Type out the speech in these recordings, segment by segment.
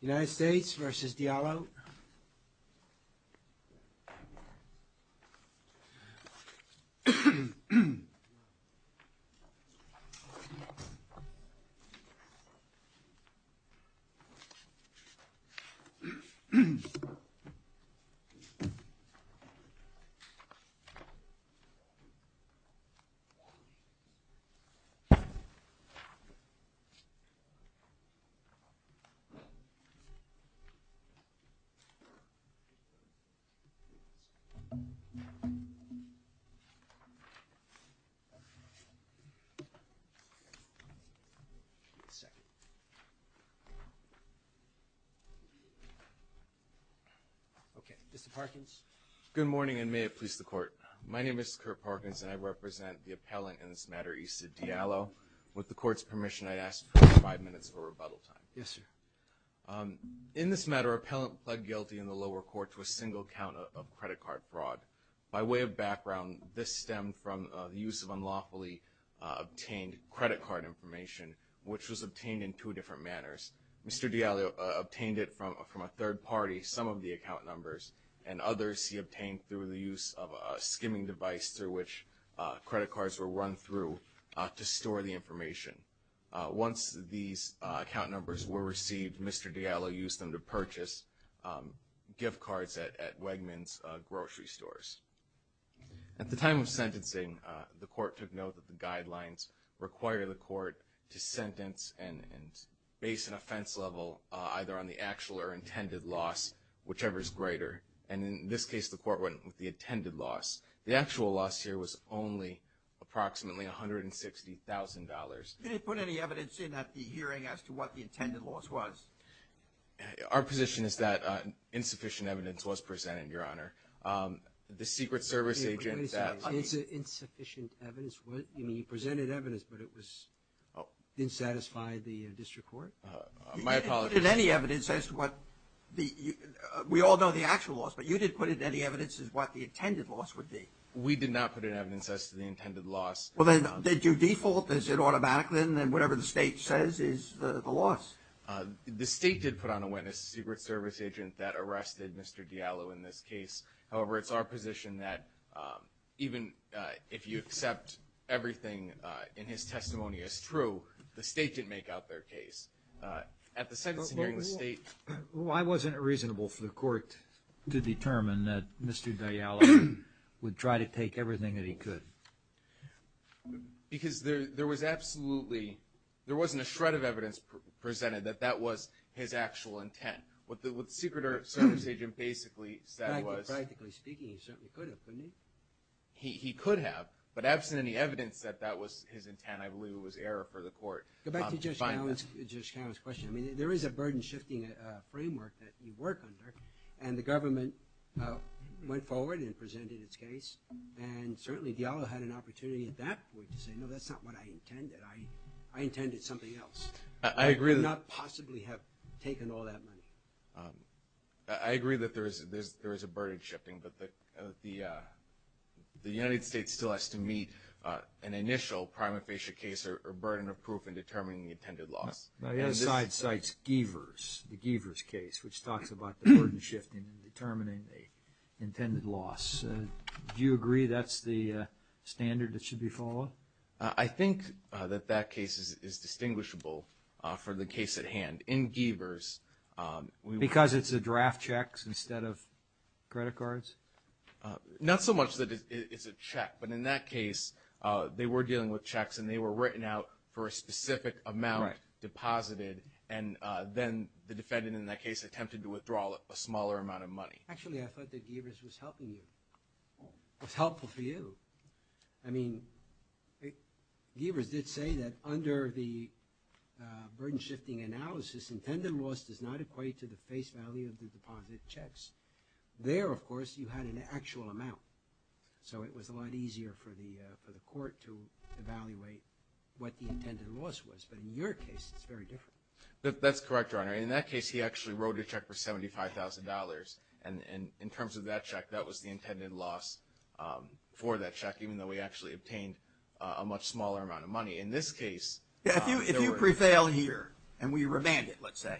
United States v. Diallo Good morning, and may it please the Court. My name is Kurt Parkins, and I represent the appellant in this matter, Isid Diallo. With the Court's permission, I'd ask for five minutes of rebuttal time. In this matter, an appellant pled guilty in the lower court to a single count of credit card fraud. By way of background, this stemmed from the use of unlawfully obtained credit card information, which was obtained in two different manners. Mr. Diallo obtained it from a third party, some of the account numbers, and others he obtained through the use of a skimming device through which credit cards were run through to store the information. Once these account numbers were received, Mr. Diallo used them to purchase gift cards at Wegmans grocery stores. At the time of sentencing, the Court took note that the guidelines require the Court to sentence and base an offense level either on the actual or intended loss, whichever is greater. And in this case, the Court went with the intended loss. The actual loss here was only approximately $160,000. Did it put any evidence in at the hearing as to what the intended loss was? Our position is that insufficient evidence was presented, Your Honor. The Secret Service agent that – Wait a second. Insufficient evidence was – you mean he presented evidence, but it was – didn't satisfy the district court? My apologies. You didn't put any evidence as to what the – we all know the actual loss, but you didn't put any evidence as to what the intended loss would be. We did not put any evidence as to the intended loss. Well, then did you default? Is it automatic then that whatever the State says is the loss? The State did put on a witness a Secret Service agent that arrested Mr. Diallo in this case. However, it's our position that even if you accept everything in his testimony as true, the State didn't make out their case. At the sentencing hearing, the State – Why wasn't it reasonable for the court to determine that Mr. Diallo would try to take everything that he could? Because there was absolutely – there wasn't a shred of evidence presented that that was his actual intent. What the Secret Service agent basically said was – Practically speaking, he certainly could have, couldn't he? He could have, but absent any evidence that that was his intent, I believe it was error for the court. Go back to Judge Kavanaugh's question. I mean, there is a burden-shifting framework that you work under, and the government went forward and presented its case, and certainly Diallo had an opportunity in that way to say, no, that's not what I intended. I intended something else. I agree that – I would not possibly have taken all that money. I agree that there is a burden-shifting, but the United States still has to meet an initial prima facie case or burden of proof in determining the intended loss. Now, the other side cites Geavers, the Geavers case, which talks about the burden-shifting in determining the intended loss. Do you agree that's the standard that should be followed? I think that that case is distinguishable for the case at hand. In Geavers, we – Because it's a draft check instead of credit cards? Not so much that it's a check, but in that case, they were dealing with checks and they were written out for a specific amount deposited, and then the defendant in that case attempted to withdraw a smaller amount of money. Actually, I thought that Geavers was helping you, was helpful for you. I mean, Geavers did say that under the burden-shifting analysis, intended loss does not equate to the face value of the deposit checks. There, of course, you had an actual amount, so it was a lot easier for the court to evaluate what the intended loss was, but in your case, it's very different. That's correct, Your Honor. In that case, he actually wrote a check for $75,000, and in terms of that check, that was the intended loss for that check, even though we actually obtained a much smaller amount of money. In this case, there were – You prevail here, and we remand it, let's say.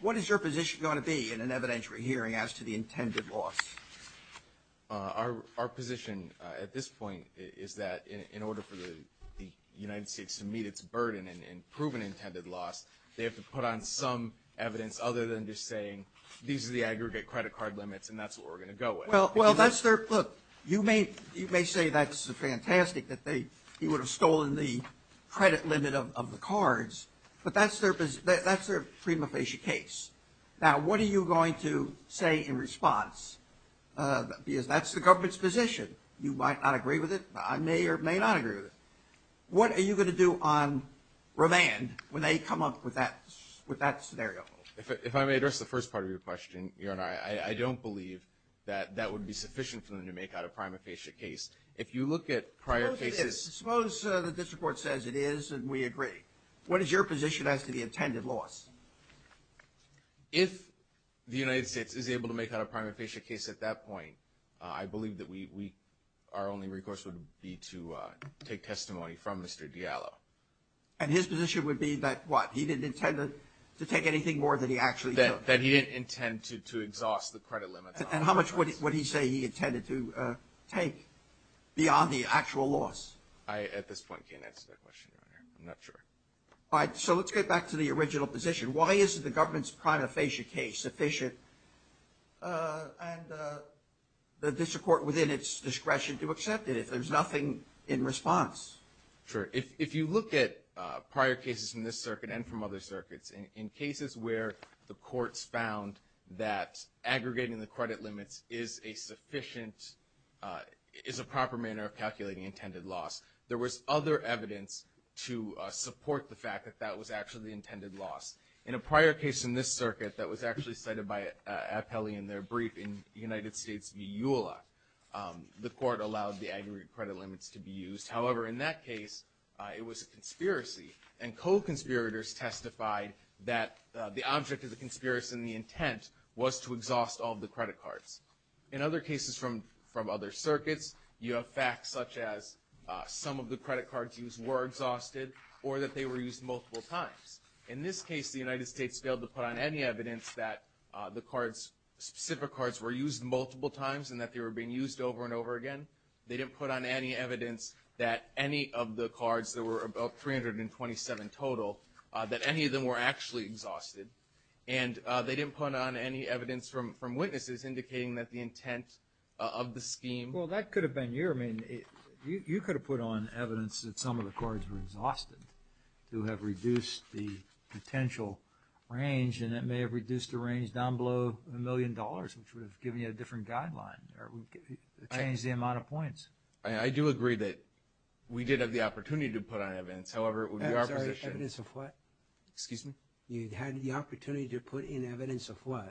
What is your position going to be in an evidentiary hearing as to the intended loss? Our position at this point is that in order for the United States to meet its burden in proven intended loss, they have to put on some evidence other than just saying, these are the aggregate credit card limits, and that's what we're going to go with. Well, that's their – look, you may say that's fantastic that they – he would have stolen the credit limit of the cards, but that's their prima facie case. Now, what are you going to say in response? Because that's the government's position. You might not agree with it. I may or may not agree with it. What are you going to do on remand when they come up with that scenario? If I may address the first part of your question, Your Honor, I don't believe that that would be sufficient for them to make out a prima facie case. If you look at prior cases – Suppose it is. Suppose the district court says it is and we agree. What is your position as to the intended loss? If the United States is able to make out a prima facie case at that point, I believe that we – our only recourse would be to take testimony from Mr. Diallo. And his position would be that what? He didn't intend to take anything more than he actually took? And how much would he say he intended to take beyond the actual loss? I at this point can't answer that question, Your Honor. I'm not sure. All right. So let's get back to the original position. Why isn't the government's prima facie case sufficient and the district court within its discretion to accept it if there's nothing in response? Sure. If you look at prior cases in this circuit and from other circuits, in cases where the use of credit limits is a sufficient – is a proper manner of calculating intended loss, there was other evidence to support the fact that that was actually the intended loss. In a prior case in this circuit that was actually cited by Appelli in their brief in United States v. EULA, the court allowed the aggregate credit limits to be used. However, in that case, it was a conspiracy and co-conspirators testified that the object of the conspiracy and the intent was to exhaust all of the credit cards. In other cases from other circuits, you have facts such as some of the credit cards used were exhausted or that they were used multiple times. In this case, the United States failed to put on any evidence that the cards – specific cards were used multiple times and that they were being used over and over again. They didn't put on any evidence that any of the They didn't put on any evidence from witnesses indicating that the intent of the scheme – Well, that could have been your – I mean, you could have put on evidence that some of the cards were exhausted to have reduced the potential range and that may have reduced the range down below a million dollars, which would have given you a different guideline or changed the amount of points. I do agree that we did have the opportunity to put on evidence. However, it would be our position – I'm sorry, evidence of what? Excuse me? You had the opportunity to put in evidence of what?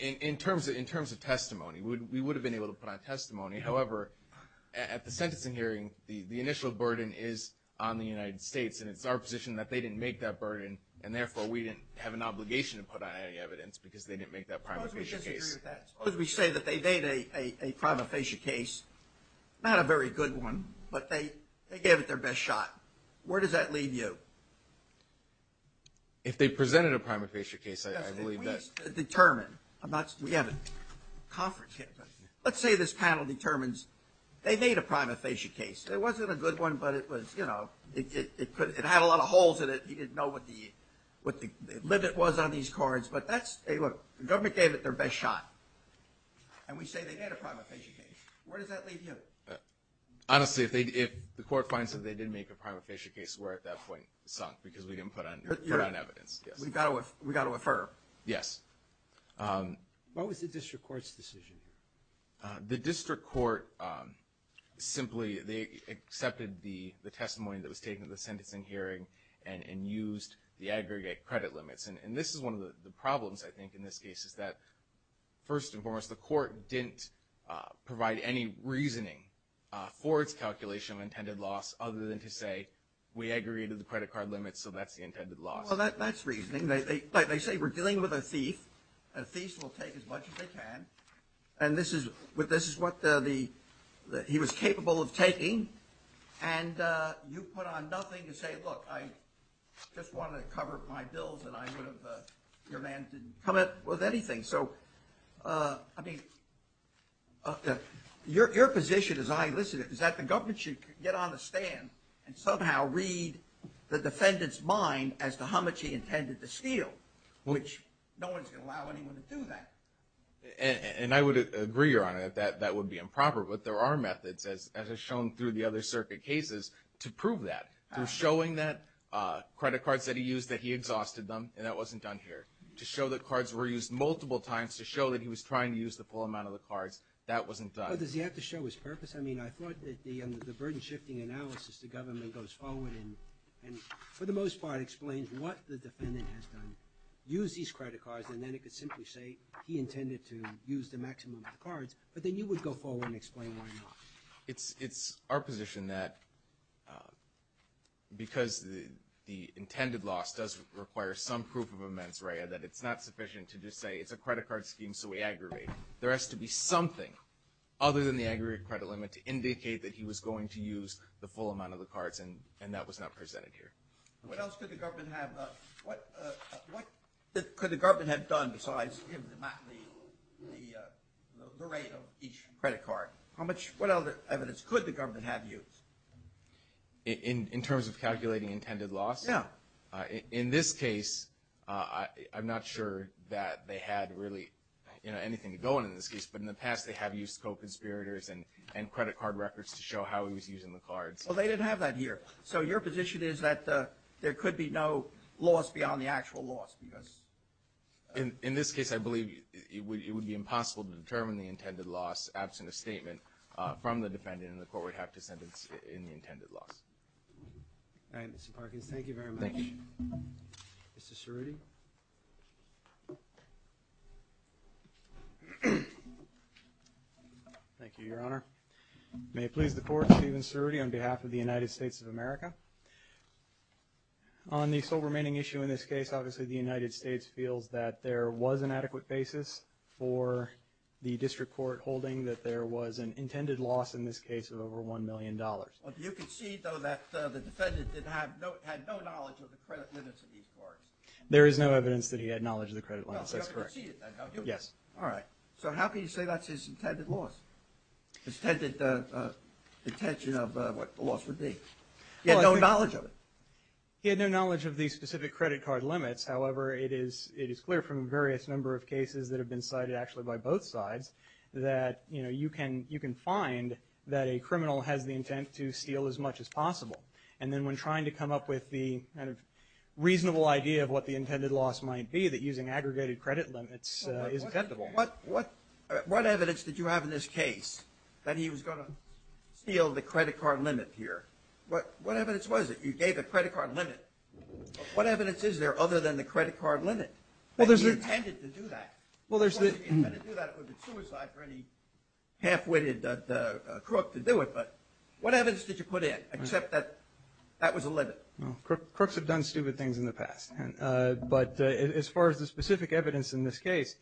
In terms of testimony, we would have been able to put on testimony. However, at the sentencing hearing, the initial burden is on the United States and it's our position that they didn't make that burden and therefore, we didn't have an obligation to put on any evidence because they didn't make that prima facie case. Suppose we disagree with that. Suppose we say that they made a prima facie case, not a very good one, but they gave it their best shot. Where does that leave you? If they presented a prima facie case, I believe that – We need to determine. I'm not – we have a conference here, but let's say this panel determines they made a prima facie case. It wasn't a good one, but it was – you know, it had a lot of holes in it. You didn't know what the limit was on these cards, but that's – look, the government gave it their best shot and we say they made a prima facie case. Where does that leave you? Honestly, if the court finds that they did make a prima facie case, we're at that point sunk because we didn't put on evidence. We've got to affirm. Yes. What was the district court's decision? The district court simply – they accepted the testimony that was taken at the sentencing hearing and used the aggregate credit limits. And this is one of the problems, I think, in this case is that, first and foremost, the court didn't provide any reasoning for its calculation of intended loss other than to say we aggregated the credit card limits, so that's the intended loss. Well, that's reasoning. They say we're dealing with a thief. A thief will take as much as they can. And this is what the – he was capable of taking. And you put on nothing to say, look, I just wanted to cover my bills and I would have – your man didn't come up with anything. So, I mean, your position, as I listen to it, is that the government should get on the stand and somehow read the defendant's mind as to how much he intended to steal, which no one's going to allow anyone to do that. And I would agree, Your Honor, that that would be improper, but there are methods, as has been shown through the other circuit cases, to prove that. Through showing that credit cards that he used, that he exhausted them, and that wasn't done here. To show that cards were used multiple times, to show that he was trying to use the full amount of the cards, that wasn't done. But does he have to show his purpose? I mean, I thought that the burden-shifting analysis the government goes forward and, for the most part, explains what the defendant has done, used these credit cards, and then it could simply say he intended to use the maximum of the cards, but then you would go forward and explain why not. It's our position that, because the intended loss does require some proof of a mens rea, that it's not sufficient to just say, it's a credit card scheme, so we aggravate it. There has to be something other than the aggravated credit limit to indicate that he was going to use the full amount of the cards, and that was not presented here. What else could the government have done besides give the rate of each credit card? How much, what other evidence could the government have used? In terms of calculating intended loss? Yeah. In this case, I'm not sure that they had really, you know, anything to go on in this case, but in the past they have used co-conspirators and credit card records to show how he was using the cards. Well, they didn't have that here. So your position is that there could be no loss beyond the actual loss? In this case, I believe it would be impossible to determine the intended loss, absent a statement from the defendant, and the court would have to sentence it in the intended loss. All right, Mr. Parkins, thank you very much. Thank you. Mr. Cerruti. Thank you, Your Honor. May it please the Court, Stephen Cerruti on behalf of the United States of America. On the sole remaining issue in this case, obviously the United States feels that there was an adequate basis for the district court holding that there was an intended loss in this case of over $1 million. You concede, though, that the defendant had no knowledge of the credit limits of these cards? There is no evidence that he had knowledge of the credit limits. That's correct. You concede it, then, don't you? Yes. All right. So how can you say that's his intended loss, his intended intention of what the loss would be? He had no knowledge of it? He had no knowledge of the specific credit card limits. However, it is clear from various number of cases that have been cited actually by both sides that, you know, you can find that a criminal has the intent to steal as much as possible. And then when trying to come up with the kind of reasonable idea of what the intended loss might be, that using aggregated credit limits is intendable. What evidence did you have in this case that he was going to steal the credit card limit here? What evidence was it? You gave a credit card limit. What evidence is there other than the credit card limit that he intended to do that? If he intended to do that, it would be suicide for any half-witted crook to do it. But what evidence did you put in except that that was a limit? Crooks have done stupid things in the past. But as far as the specific evidence in this case,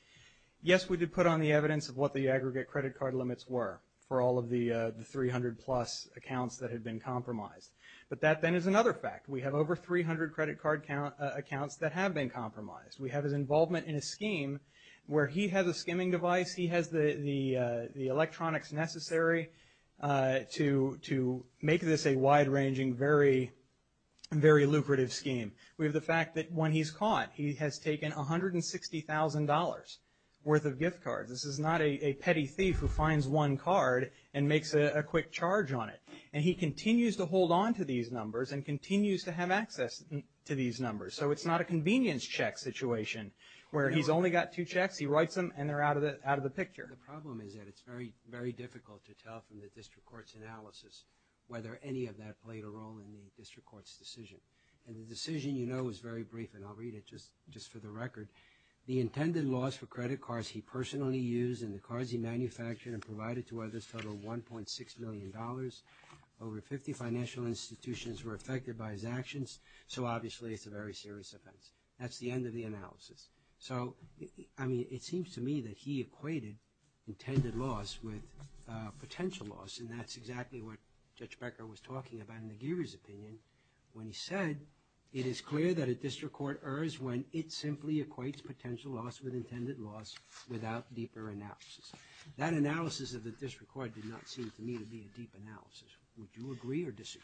yes, we did put on the evidence of what the aggregate credit card limits were for all of the 300-plus accounts that had been compromised. But that, then, is another fact. We have over 300 credit card accounts that have been compromised. We have his involvement in a scheme where he has a skimming device, he has the electronics necessary to make this a wide-ranging, very lucrative scheme. We have the fact that when he's caught, he has taken $160,000 worth of gift cards. This is not a petty thief who finds one card and makes a quick charge on it. And he continues to hold on to these numbers and continues to have access to these numbers. So it's not a convenience check situation where he's only got two checks, he writes them, and they're out of the picture. The problem is that it's very, very difficult to tell from the district court's analysis whether any of that played a role in the district court's decision. And the decision, you know, is very brief, and I'll read it just for the record. The intended loss for credit cards he personally used and the cards he manufactured and provided to others totaled $1.6 million. Over 50 financial institutions were affected by his actions, so obviously it's a very serious offense. That's the end of the analysis. So, I mean, it seems to me that he equated intended loss with potential loss, and that's exactly what Judge Becker was talking about in the Giri's opinion when he said, it is clear that a district court errs when it simply equates potential loss with intended loss without deeper analysis. That analysis of the district court did not seem to me to be a deep analysis. Would you agree or disagree?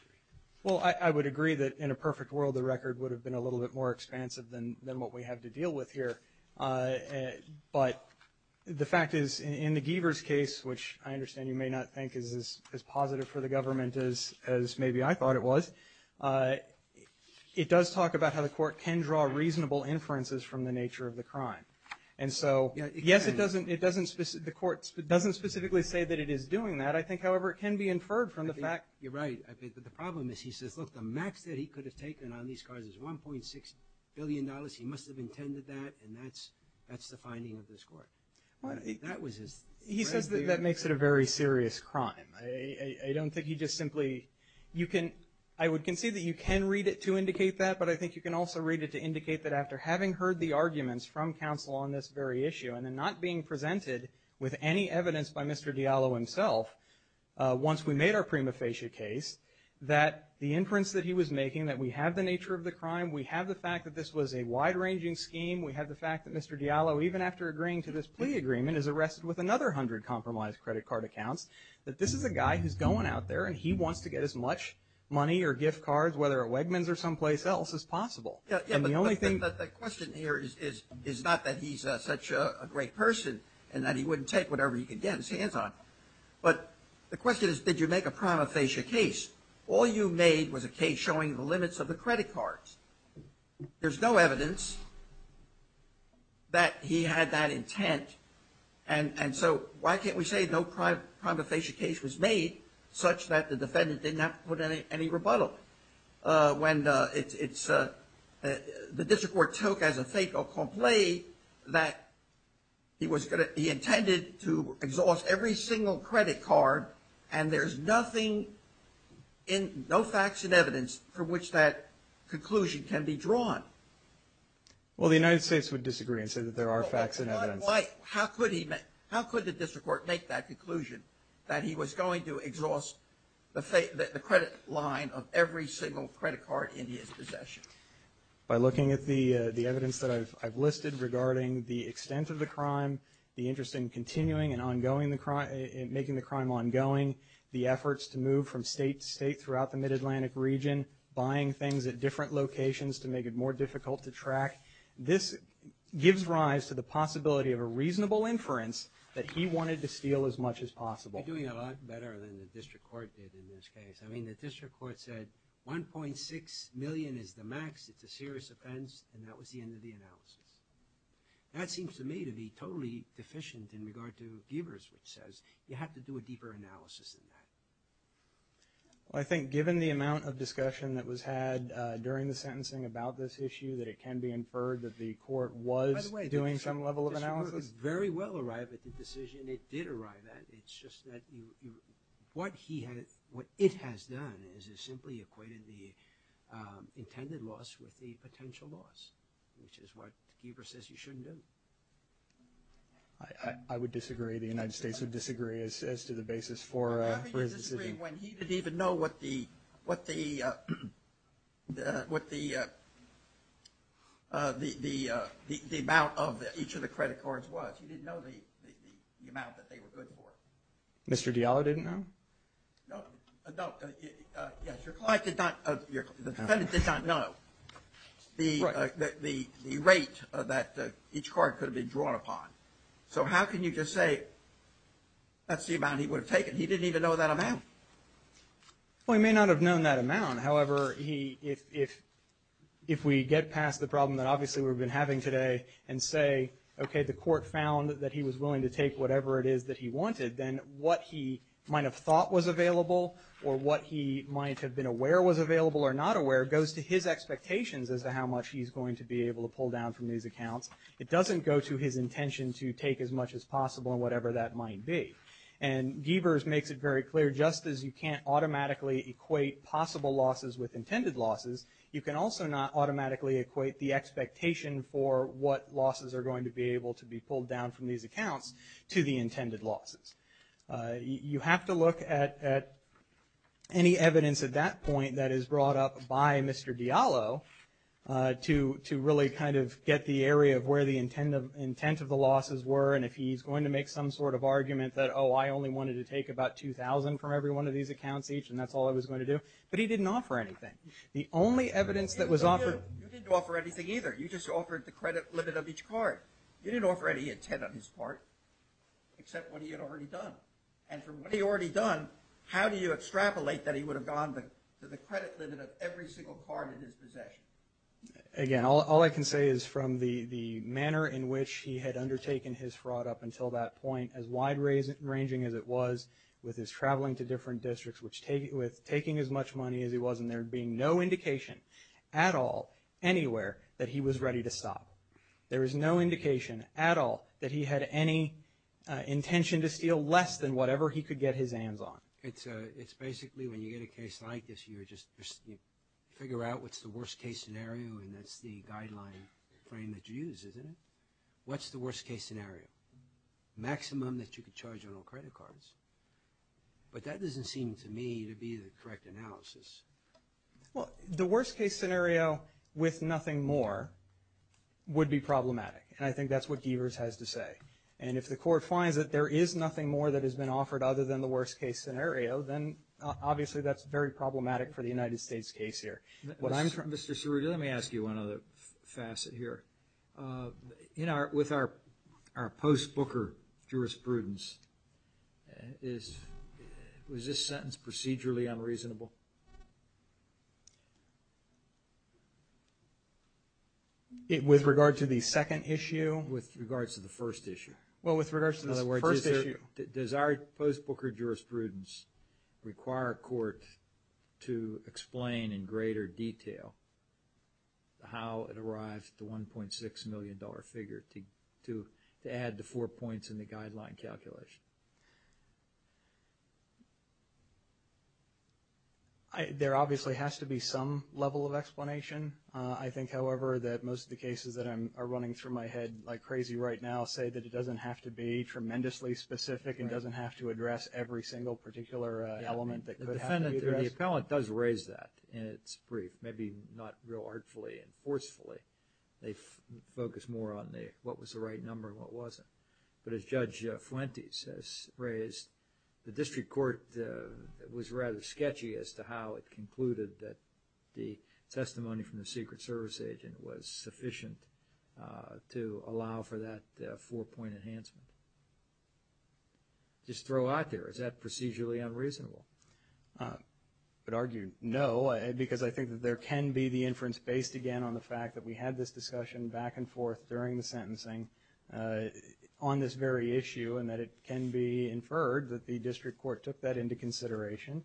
Well, I would agree that in a perfect world, the record would have been a little bit more expansive than what we have to deal with here. But the fact is, in the Giver's case, which I understand you may not think is as positive for the government as maybe I thought it was, it does talk about how the court can draw reasonable inferences from the nature of the crime. And so, yes, the court doesn't specifically say that it is doing that. I think, however, it can be inferred from the fact. You're right, but the problem is he says, look, the max that he could have taken on these crimes is $1.6 billion. He must have intended that, and that's the finding of this court. He says that makes it a very serious crime. I would concede that you can read it to indicate that, but I think you can also read it to indicate that after having heard the arguments from counsel on this very issue and then not being presented with any evidence by Mr. Diallo himself, once we made our prima facie case, that the inference that he was making, that we have the nature of the crime, we have the fact that this was a wide-ranging scheme, we have the fact that Mr. Diallo, even after agreeing to this plea agreement, is arrested with another 100 compromised credit card accounts, that this is a guy who's going out there and he wants to get as much money or gift cards, whether at Wegmans or someplace else, as possible. Yeah, but the question here is not that he's such a great person and that he wouldn't take whatever he could get his hands on, but the question is did you make a prima facie case? All you made was a case showing the limits of the credit cards. There's no evidence that he had that intent, and so why can't we say no prima facie case was made such that the defendant did not put any rebuttal? When the district court took as a fait accompli that he intended to exhaust every single credit card and there's no facts and evidence from which that conclusion can be drawn. Well, the United States would disagree and say that there are facts and evidence. How could the district court make that conclusion that he was going to exhaust the credit line of every single credit card in his possession? By looking at the evidence that I've listed regarding the extent of the crime, the interest in continuing and making the crime ongoing, the efforts to move from state to state throughout the mid-Atlantic region, buying things at different locations to make it more difficult to track. This gives rise to the possibility of a reasonable inference that he wanted to steal as much as possible. You're doing a lot better than the district court did in this case. I mean, the district court said $1.6 million is the max. It's a serious offense, and that was the end of the analysis. That seems to me to be totally deficient in regard to Giebers, which says you have to do a deeper analysis than that. Well, I think given the amount of discussion that was had during the sentencing about this issue, that it can be inferred that the court was doing some level of analysis. By the way, the district court very well arrived at the decision it did arrive at. It's just that what it has done is it simply equated the intended loss with the potential loss, which is what Giebers says you shouldn't do. I would disagree. The United States would disagree as to the basis for his decision. How can you disagree when he didn't even know what the amount of each of the credit cards was? He didn't know the amount that they were good for. Mr. Diallo didn't know? No. Yes, your client did not. The defendant did not know the rate that each card could have been drawn upon. So how can you just say that's the amount he would have taken? He didn't even know that amount. Well, he may not have known that amount. However, if we get past the problem that obviously we've been having today and say, okay, the court found that he was willing to take whatever it is that he wanted, then what he might have thought was available or what he might have been aware was available or not aware goes to his expectations as to how much he's going to be able to pull down from these accounts. It doesn't go to his intention to take as much as possible and whatever that might be. And Gevers makes it very clear, just as you can't automatically equate possible losses with intended losses, you can also not automatically equate the expectation for what losses are going to be able to be pulled down from these accounts to the intended losses. You have to look at any evidence at that point that is brought up by Mr. Diallo to really kind of get the area of where the intent of the losses were and if he's going to make some sort of argument that, oh, I only wanted to take about $2,000 from every one of these accounts each and that's all I was going to do. But he didn't offer anything. The only evidence that was offered. You didn't offer anything either. You just offered the credit limit of each card. You didn't offer any intent on his part except what he had already done. And from what he had already done, how do you extrapolate that he would have gone to the credit limit of every single card in his possession? Again, all I can say is from the manner in which he had undertaken his fraud up until that point, as wide ranging as it was with his traveling to different districts, with taking as much money as he was and there being no indication at all anywhere that he was ready to stop. There was no indication at all that he had any intention to steal less than whatever he could get his hands on. It's basically when you get a case like this, you just figure out what's the worst case scenario and that's the guideline frame that you use, isn't it? What's the worst case scenario? Maximum that you could charge on all credit cards. But that doesn't seem to me to be the correct analysis. Well, the worst case scenario with nothing more would be problematic. And I think that's what Deavers has to say. And if the court finds that there is nothing more that has been offered other than the worst case scenario, then obviously that's very problematic for the United States case here. Mr. Ceruta, let me ask you one other facet here. With our post-Booker jurisprudence, was this sentence procedurally unreasonable? With regard to the second issue? With regard to the first issue. Well, with regard to the first issue. In other words, does our post-Booker jurisprudence require a court to explain in greater detail how it arrived at the $1.6 million figure to add the four points in the guideline calculation? I think, however, that most of the cases that are running through my head like crazy right now say that it doesn't have to be tremendously specific and doesn't have to address every single particular element that could happen. The appellant does raise that in its brief. Maybe not real artfully and forcefully. They focus more on what was the right number and what wasn't. But as Judge Fuentes has raised, the district court was rather sketchy as to how it concluded that the testimony from the Secret Service agent was sufficient to allow for that four-point enhancement. Just throw out there, is that procedurally unreasonable? I would argue no, because I think that there can be the inference based again on the fact that we had this discussion back and forth during the sentencing on this very issue and that it can be inferred that the district court took that into consideration,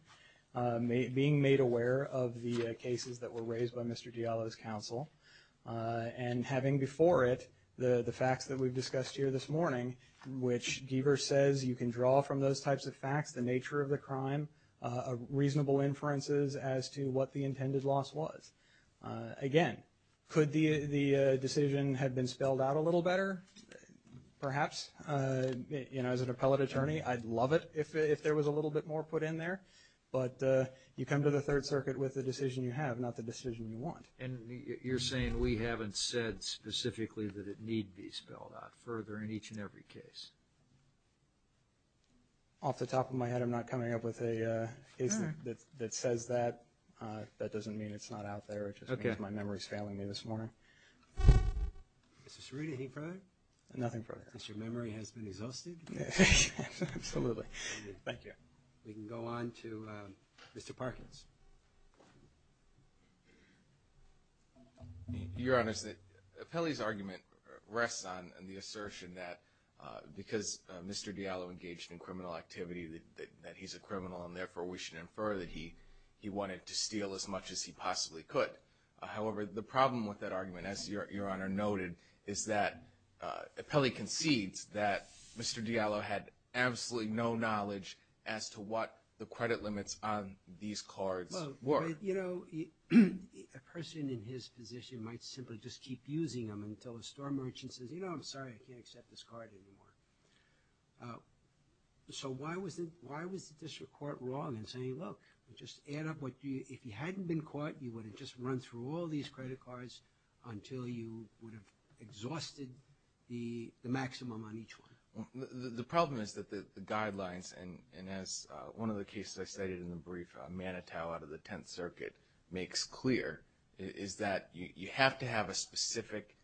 being made aware of the cases that were raised by Mr. Diallo's counsel, and having before it the facts that we've discussed here this morning, which Deaver says you can draw from those types of facts the nature of the crime, reasonable inferences as to what the intended loss was. Again, could the decision have been spelled out a little better? Perhaps. You know, as an appellate attorney, I'd love it if there was a little bit more put in there. But you come to the Third Circuit with the decision you have, not the decision you want. And you're saying we haven't said specifically that it need be spelled out further in each and every case? Off the top of my head, I'm not coming up with a case that says that. That doesn't mean it's not out there. It just means my memory is failing me this morning. Mr. Ceruta, any further? Nothing further. Mr. Memory has been exhausted. Absolutely. Thank you. We can go on to Mr. Parkins. Your Honor, Pelle's argument rests on the assertion that because Mr. Diallo engaged in criminal activity, that he's a criminal and therefore we should infer that he wanted to steal as much as he possibly could. However, the problem with that argument, as Your Honor noted, is that Pelle concedes that Mr. Diallo had absolutely no knowledge as to what the credit limits on these cards were. Well, you know, a person in his position might simply just keep using them until a store merchant says, you know, I'm sorry, I can't accept this card anymore. So why was the district court wrong in saying, look, just add up what you – if you hadn't been caught, you would have just run through all these credit cards until you would have exhausted the maximum on each one? The problem is that the guidelines, and as one of the cases I stated in the brief, Manitow out of the Tenth Circuit makes clear, is that you have to have a specific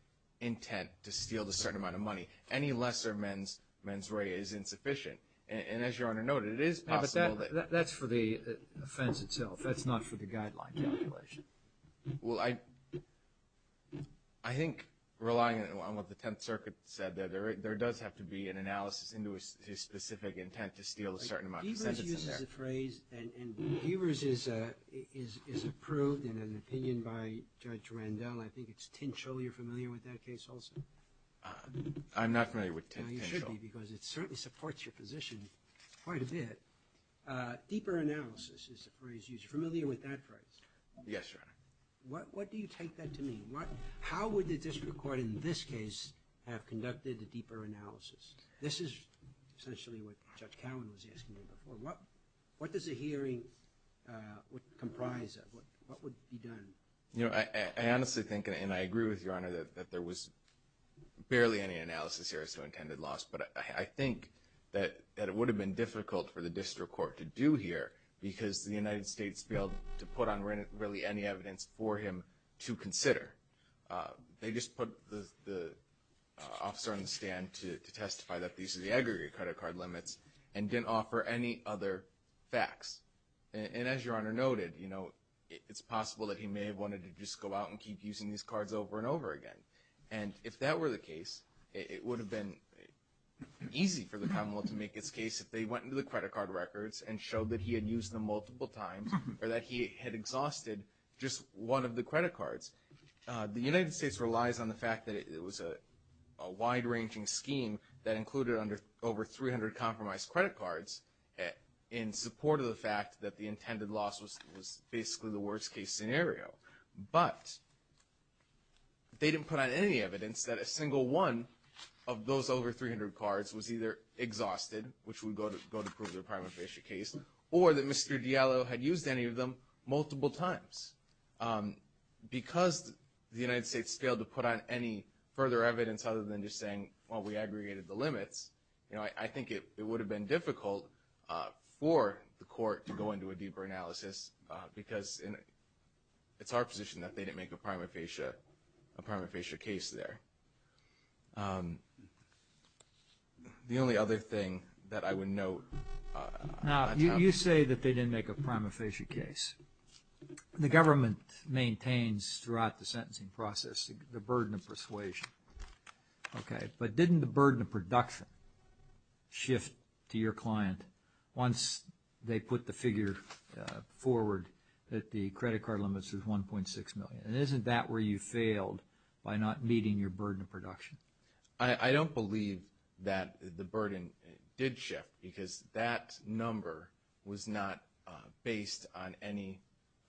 intent to steal a certain amount of money. Any lesser mens rea is insufficient. And as Your Honor noted, it is possible that – But that's for the offense itself. That's not for the guideline calculation. Well, I think relying on what the Tenth Circuit said there, there does have to be an analysis into his specific intent to steal a certain amount of money. Deavers uses a phrase, and Deavers is approved in an opinion by Judge Randall. I think it's Tinchill you're familiar with that case also. I'm not familiar with Tinchill. No, you should be because it certainly supports your position quite a bit. Deeper analysis is the phrase used. You're familiar with that phrase? Yes, Your Honor. What do you take that to mean? How would the district court in this case have conducted a deeper analysis? This is essentially what Judge Cowan was asking me before. What does a hearing comprise of? What would be done? You know, I honestly think, and I agree with Your Honor, that there was barely any analysis here as to intended loss. But I think that it would have been difficult for the district court to do here because the United States failed to put on really any evidence for him to consider. They just put the officer on the stand to testify that these are the aggregate credit card limits and didn't offer any other facts. And as Your Honor noted, you know, it's possible that he may have wanted to just go out and keep using these cards over and over again. And if that were the case, it would have been easy for the Commonwealth to make its case if they went into the credit card records and showed that he had used them multiple times or that he had exhausted just one of the credit cards. The United States relies on the fact that it was a wide-ranging scheme that included over 300 compromised credit cards in support of the fact that the intended loss was basically the worst-case scenario. But they didn't put on any evidence that a single one of those over 300 cards was either exhausted, which would go to prove their prima facie case, or that Mr. Diallo had used any of them multiple times. Because the United States failed to put on any further evidence other than just saying, well, we aggregated the limits. You know, I think it would have been difficult for the court to go into a deeper analysis because it's our position that they didn't make a prima facie case there. The only other thing that I would note. Now, you say that they didn't make a prima facie case. The government maintains throughout the sentencing process the burden of persuasion. But didn't the burden of production shift to your client once they put the figure forward that the credit card limits was $1.6 million? And isn't that where you failed by not meeting your burden of production? I don't believe that the burden did shift because that number was not based on any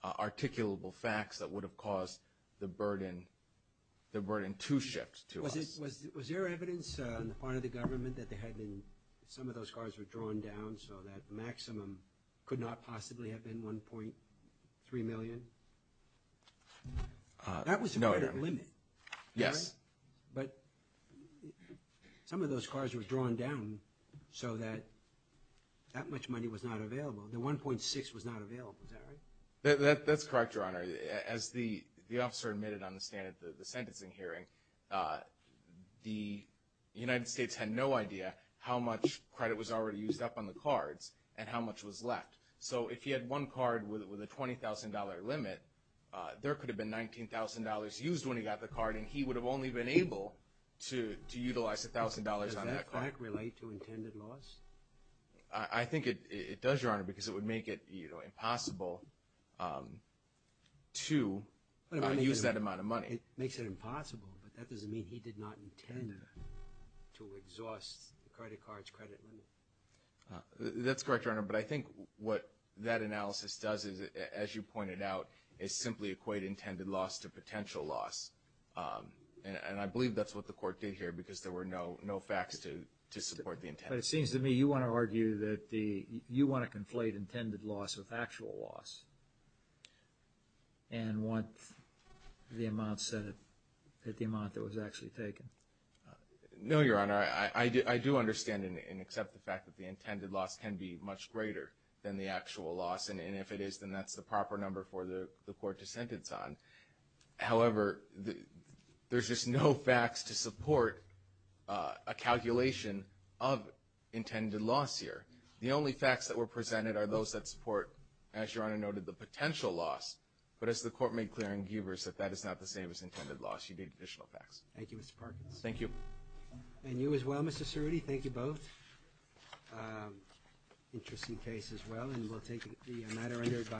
articulable facts that would have caused the burden to shift to us. Was there evidence on the part of the government that some of those cards were drawn down so that the maximum could not possibly have been $1.3 million? No, Your Honor. That was a greater limit. Yes. But some of those cards were drawn down so that that much money was not available. The $1.6 million was not available. Is that right? That's correct, Your Honor. As the officer admitted on the stand at the sentencing hearing, the United States had no idea how much credit was already used up on the cards and how much was left. So if you had one card with a $20,000 limit, there could have been $19,000 used when he got the card, and he would have only been able to utilize $1,000 on that card. Does that fact relate to intended loss? I think it does, Your Honor, because it would make it impossible to use that amount of money. It makes it impossible, but that doesn't mean he did not intend to exhaust the credit card's credit limit. That's correct, Your Honor. But I think what that analysis does is, as you pointed out, is simply equate intended loss to potential loss. And I believe that's what the court did here because there were no facts to support the intent. But it seems to me you want to argue that you want to conflate intended loss with actual loss and want the amount that was actually taken. No, Your Honor. I do understand and accept the fact that the intended loss can be much greater than the actual loss, and if it is, then that's the proper number for the court to sentence on. However, there's just no facts to support a calculation of intended loss here. The only facts that were presented are those that support, as Your Honor noted, the potential loss. But as the court made clear in Gievers, that that is not the same as intended loss. You need additional facts. Thank you, Mr. Parkins. Thank you. And you as well, Mr. Cerruti. Thank you both. Interesting case as well. And we'll take the matter under advisory.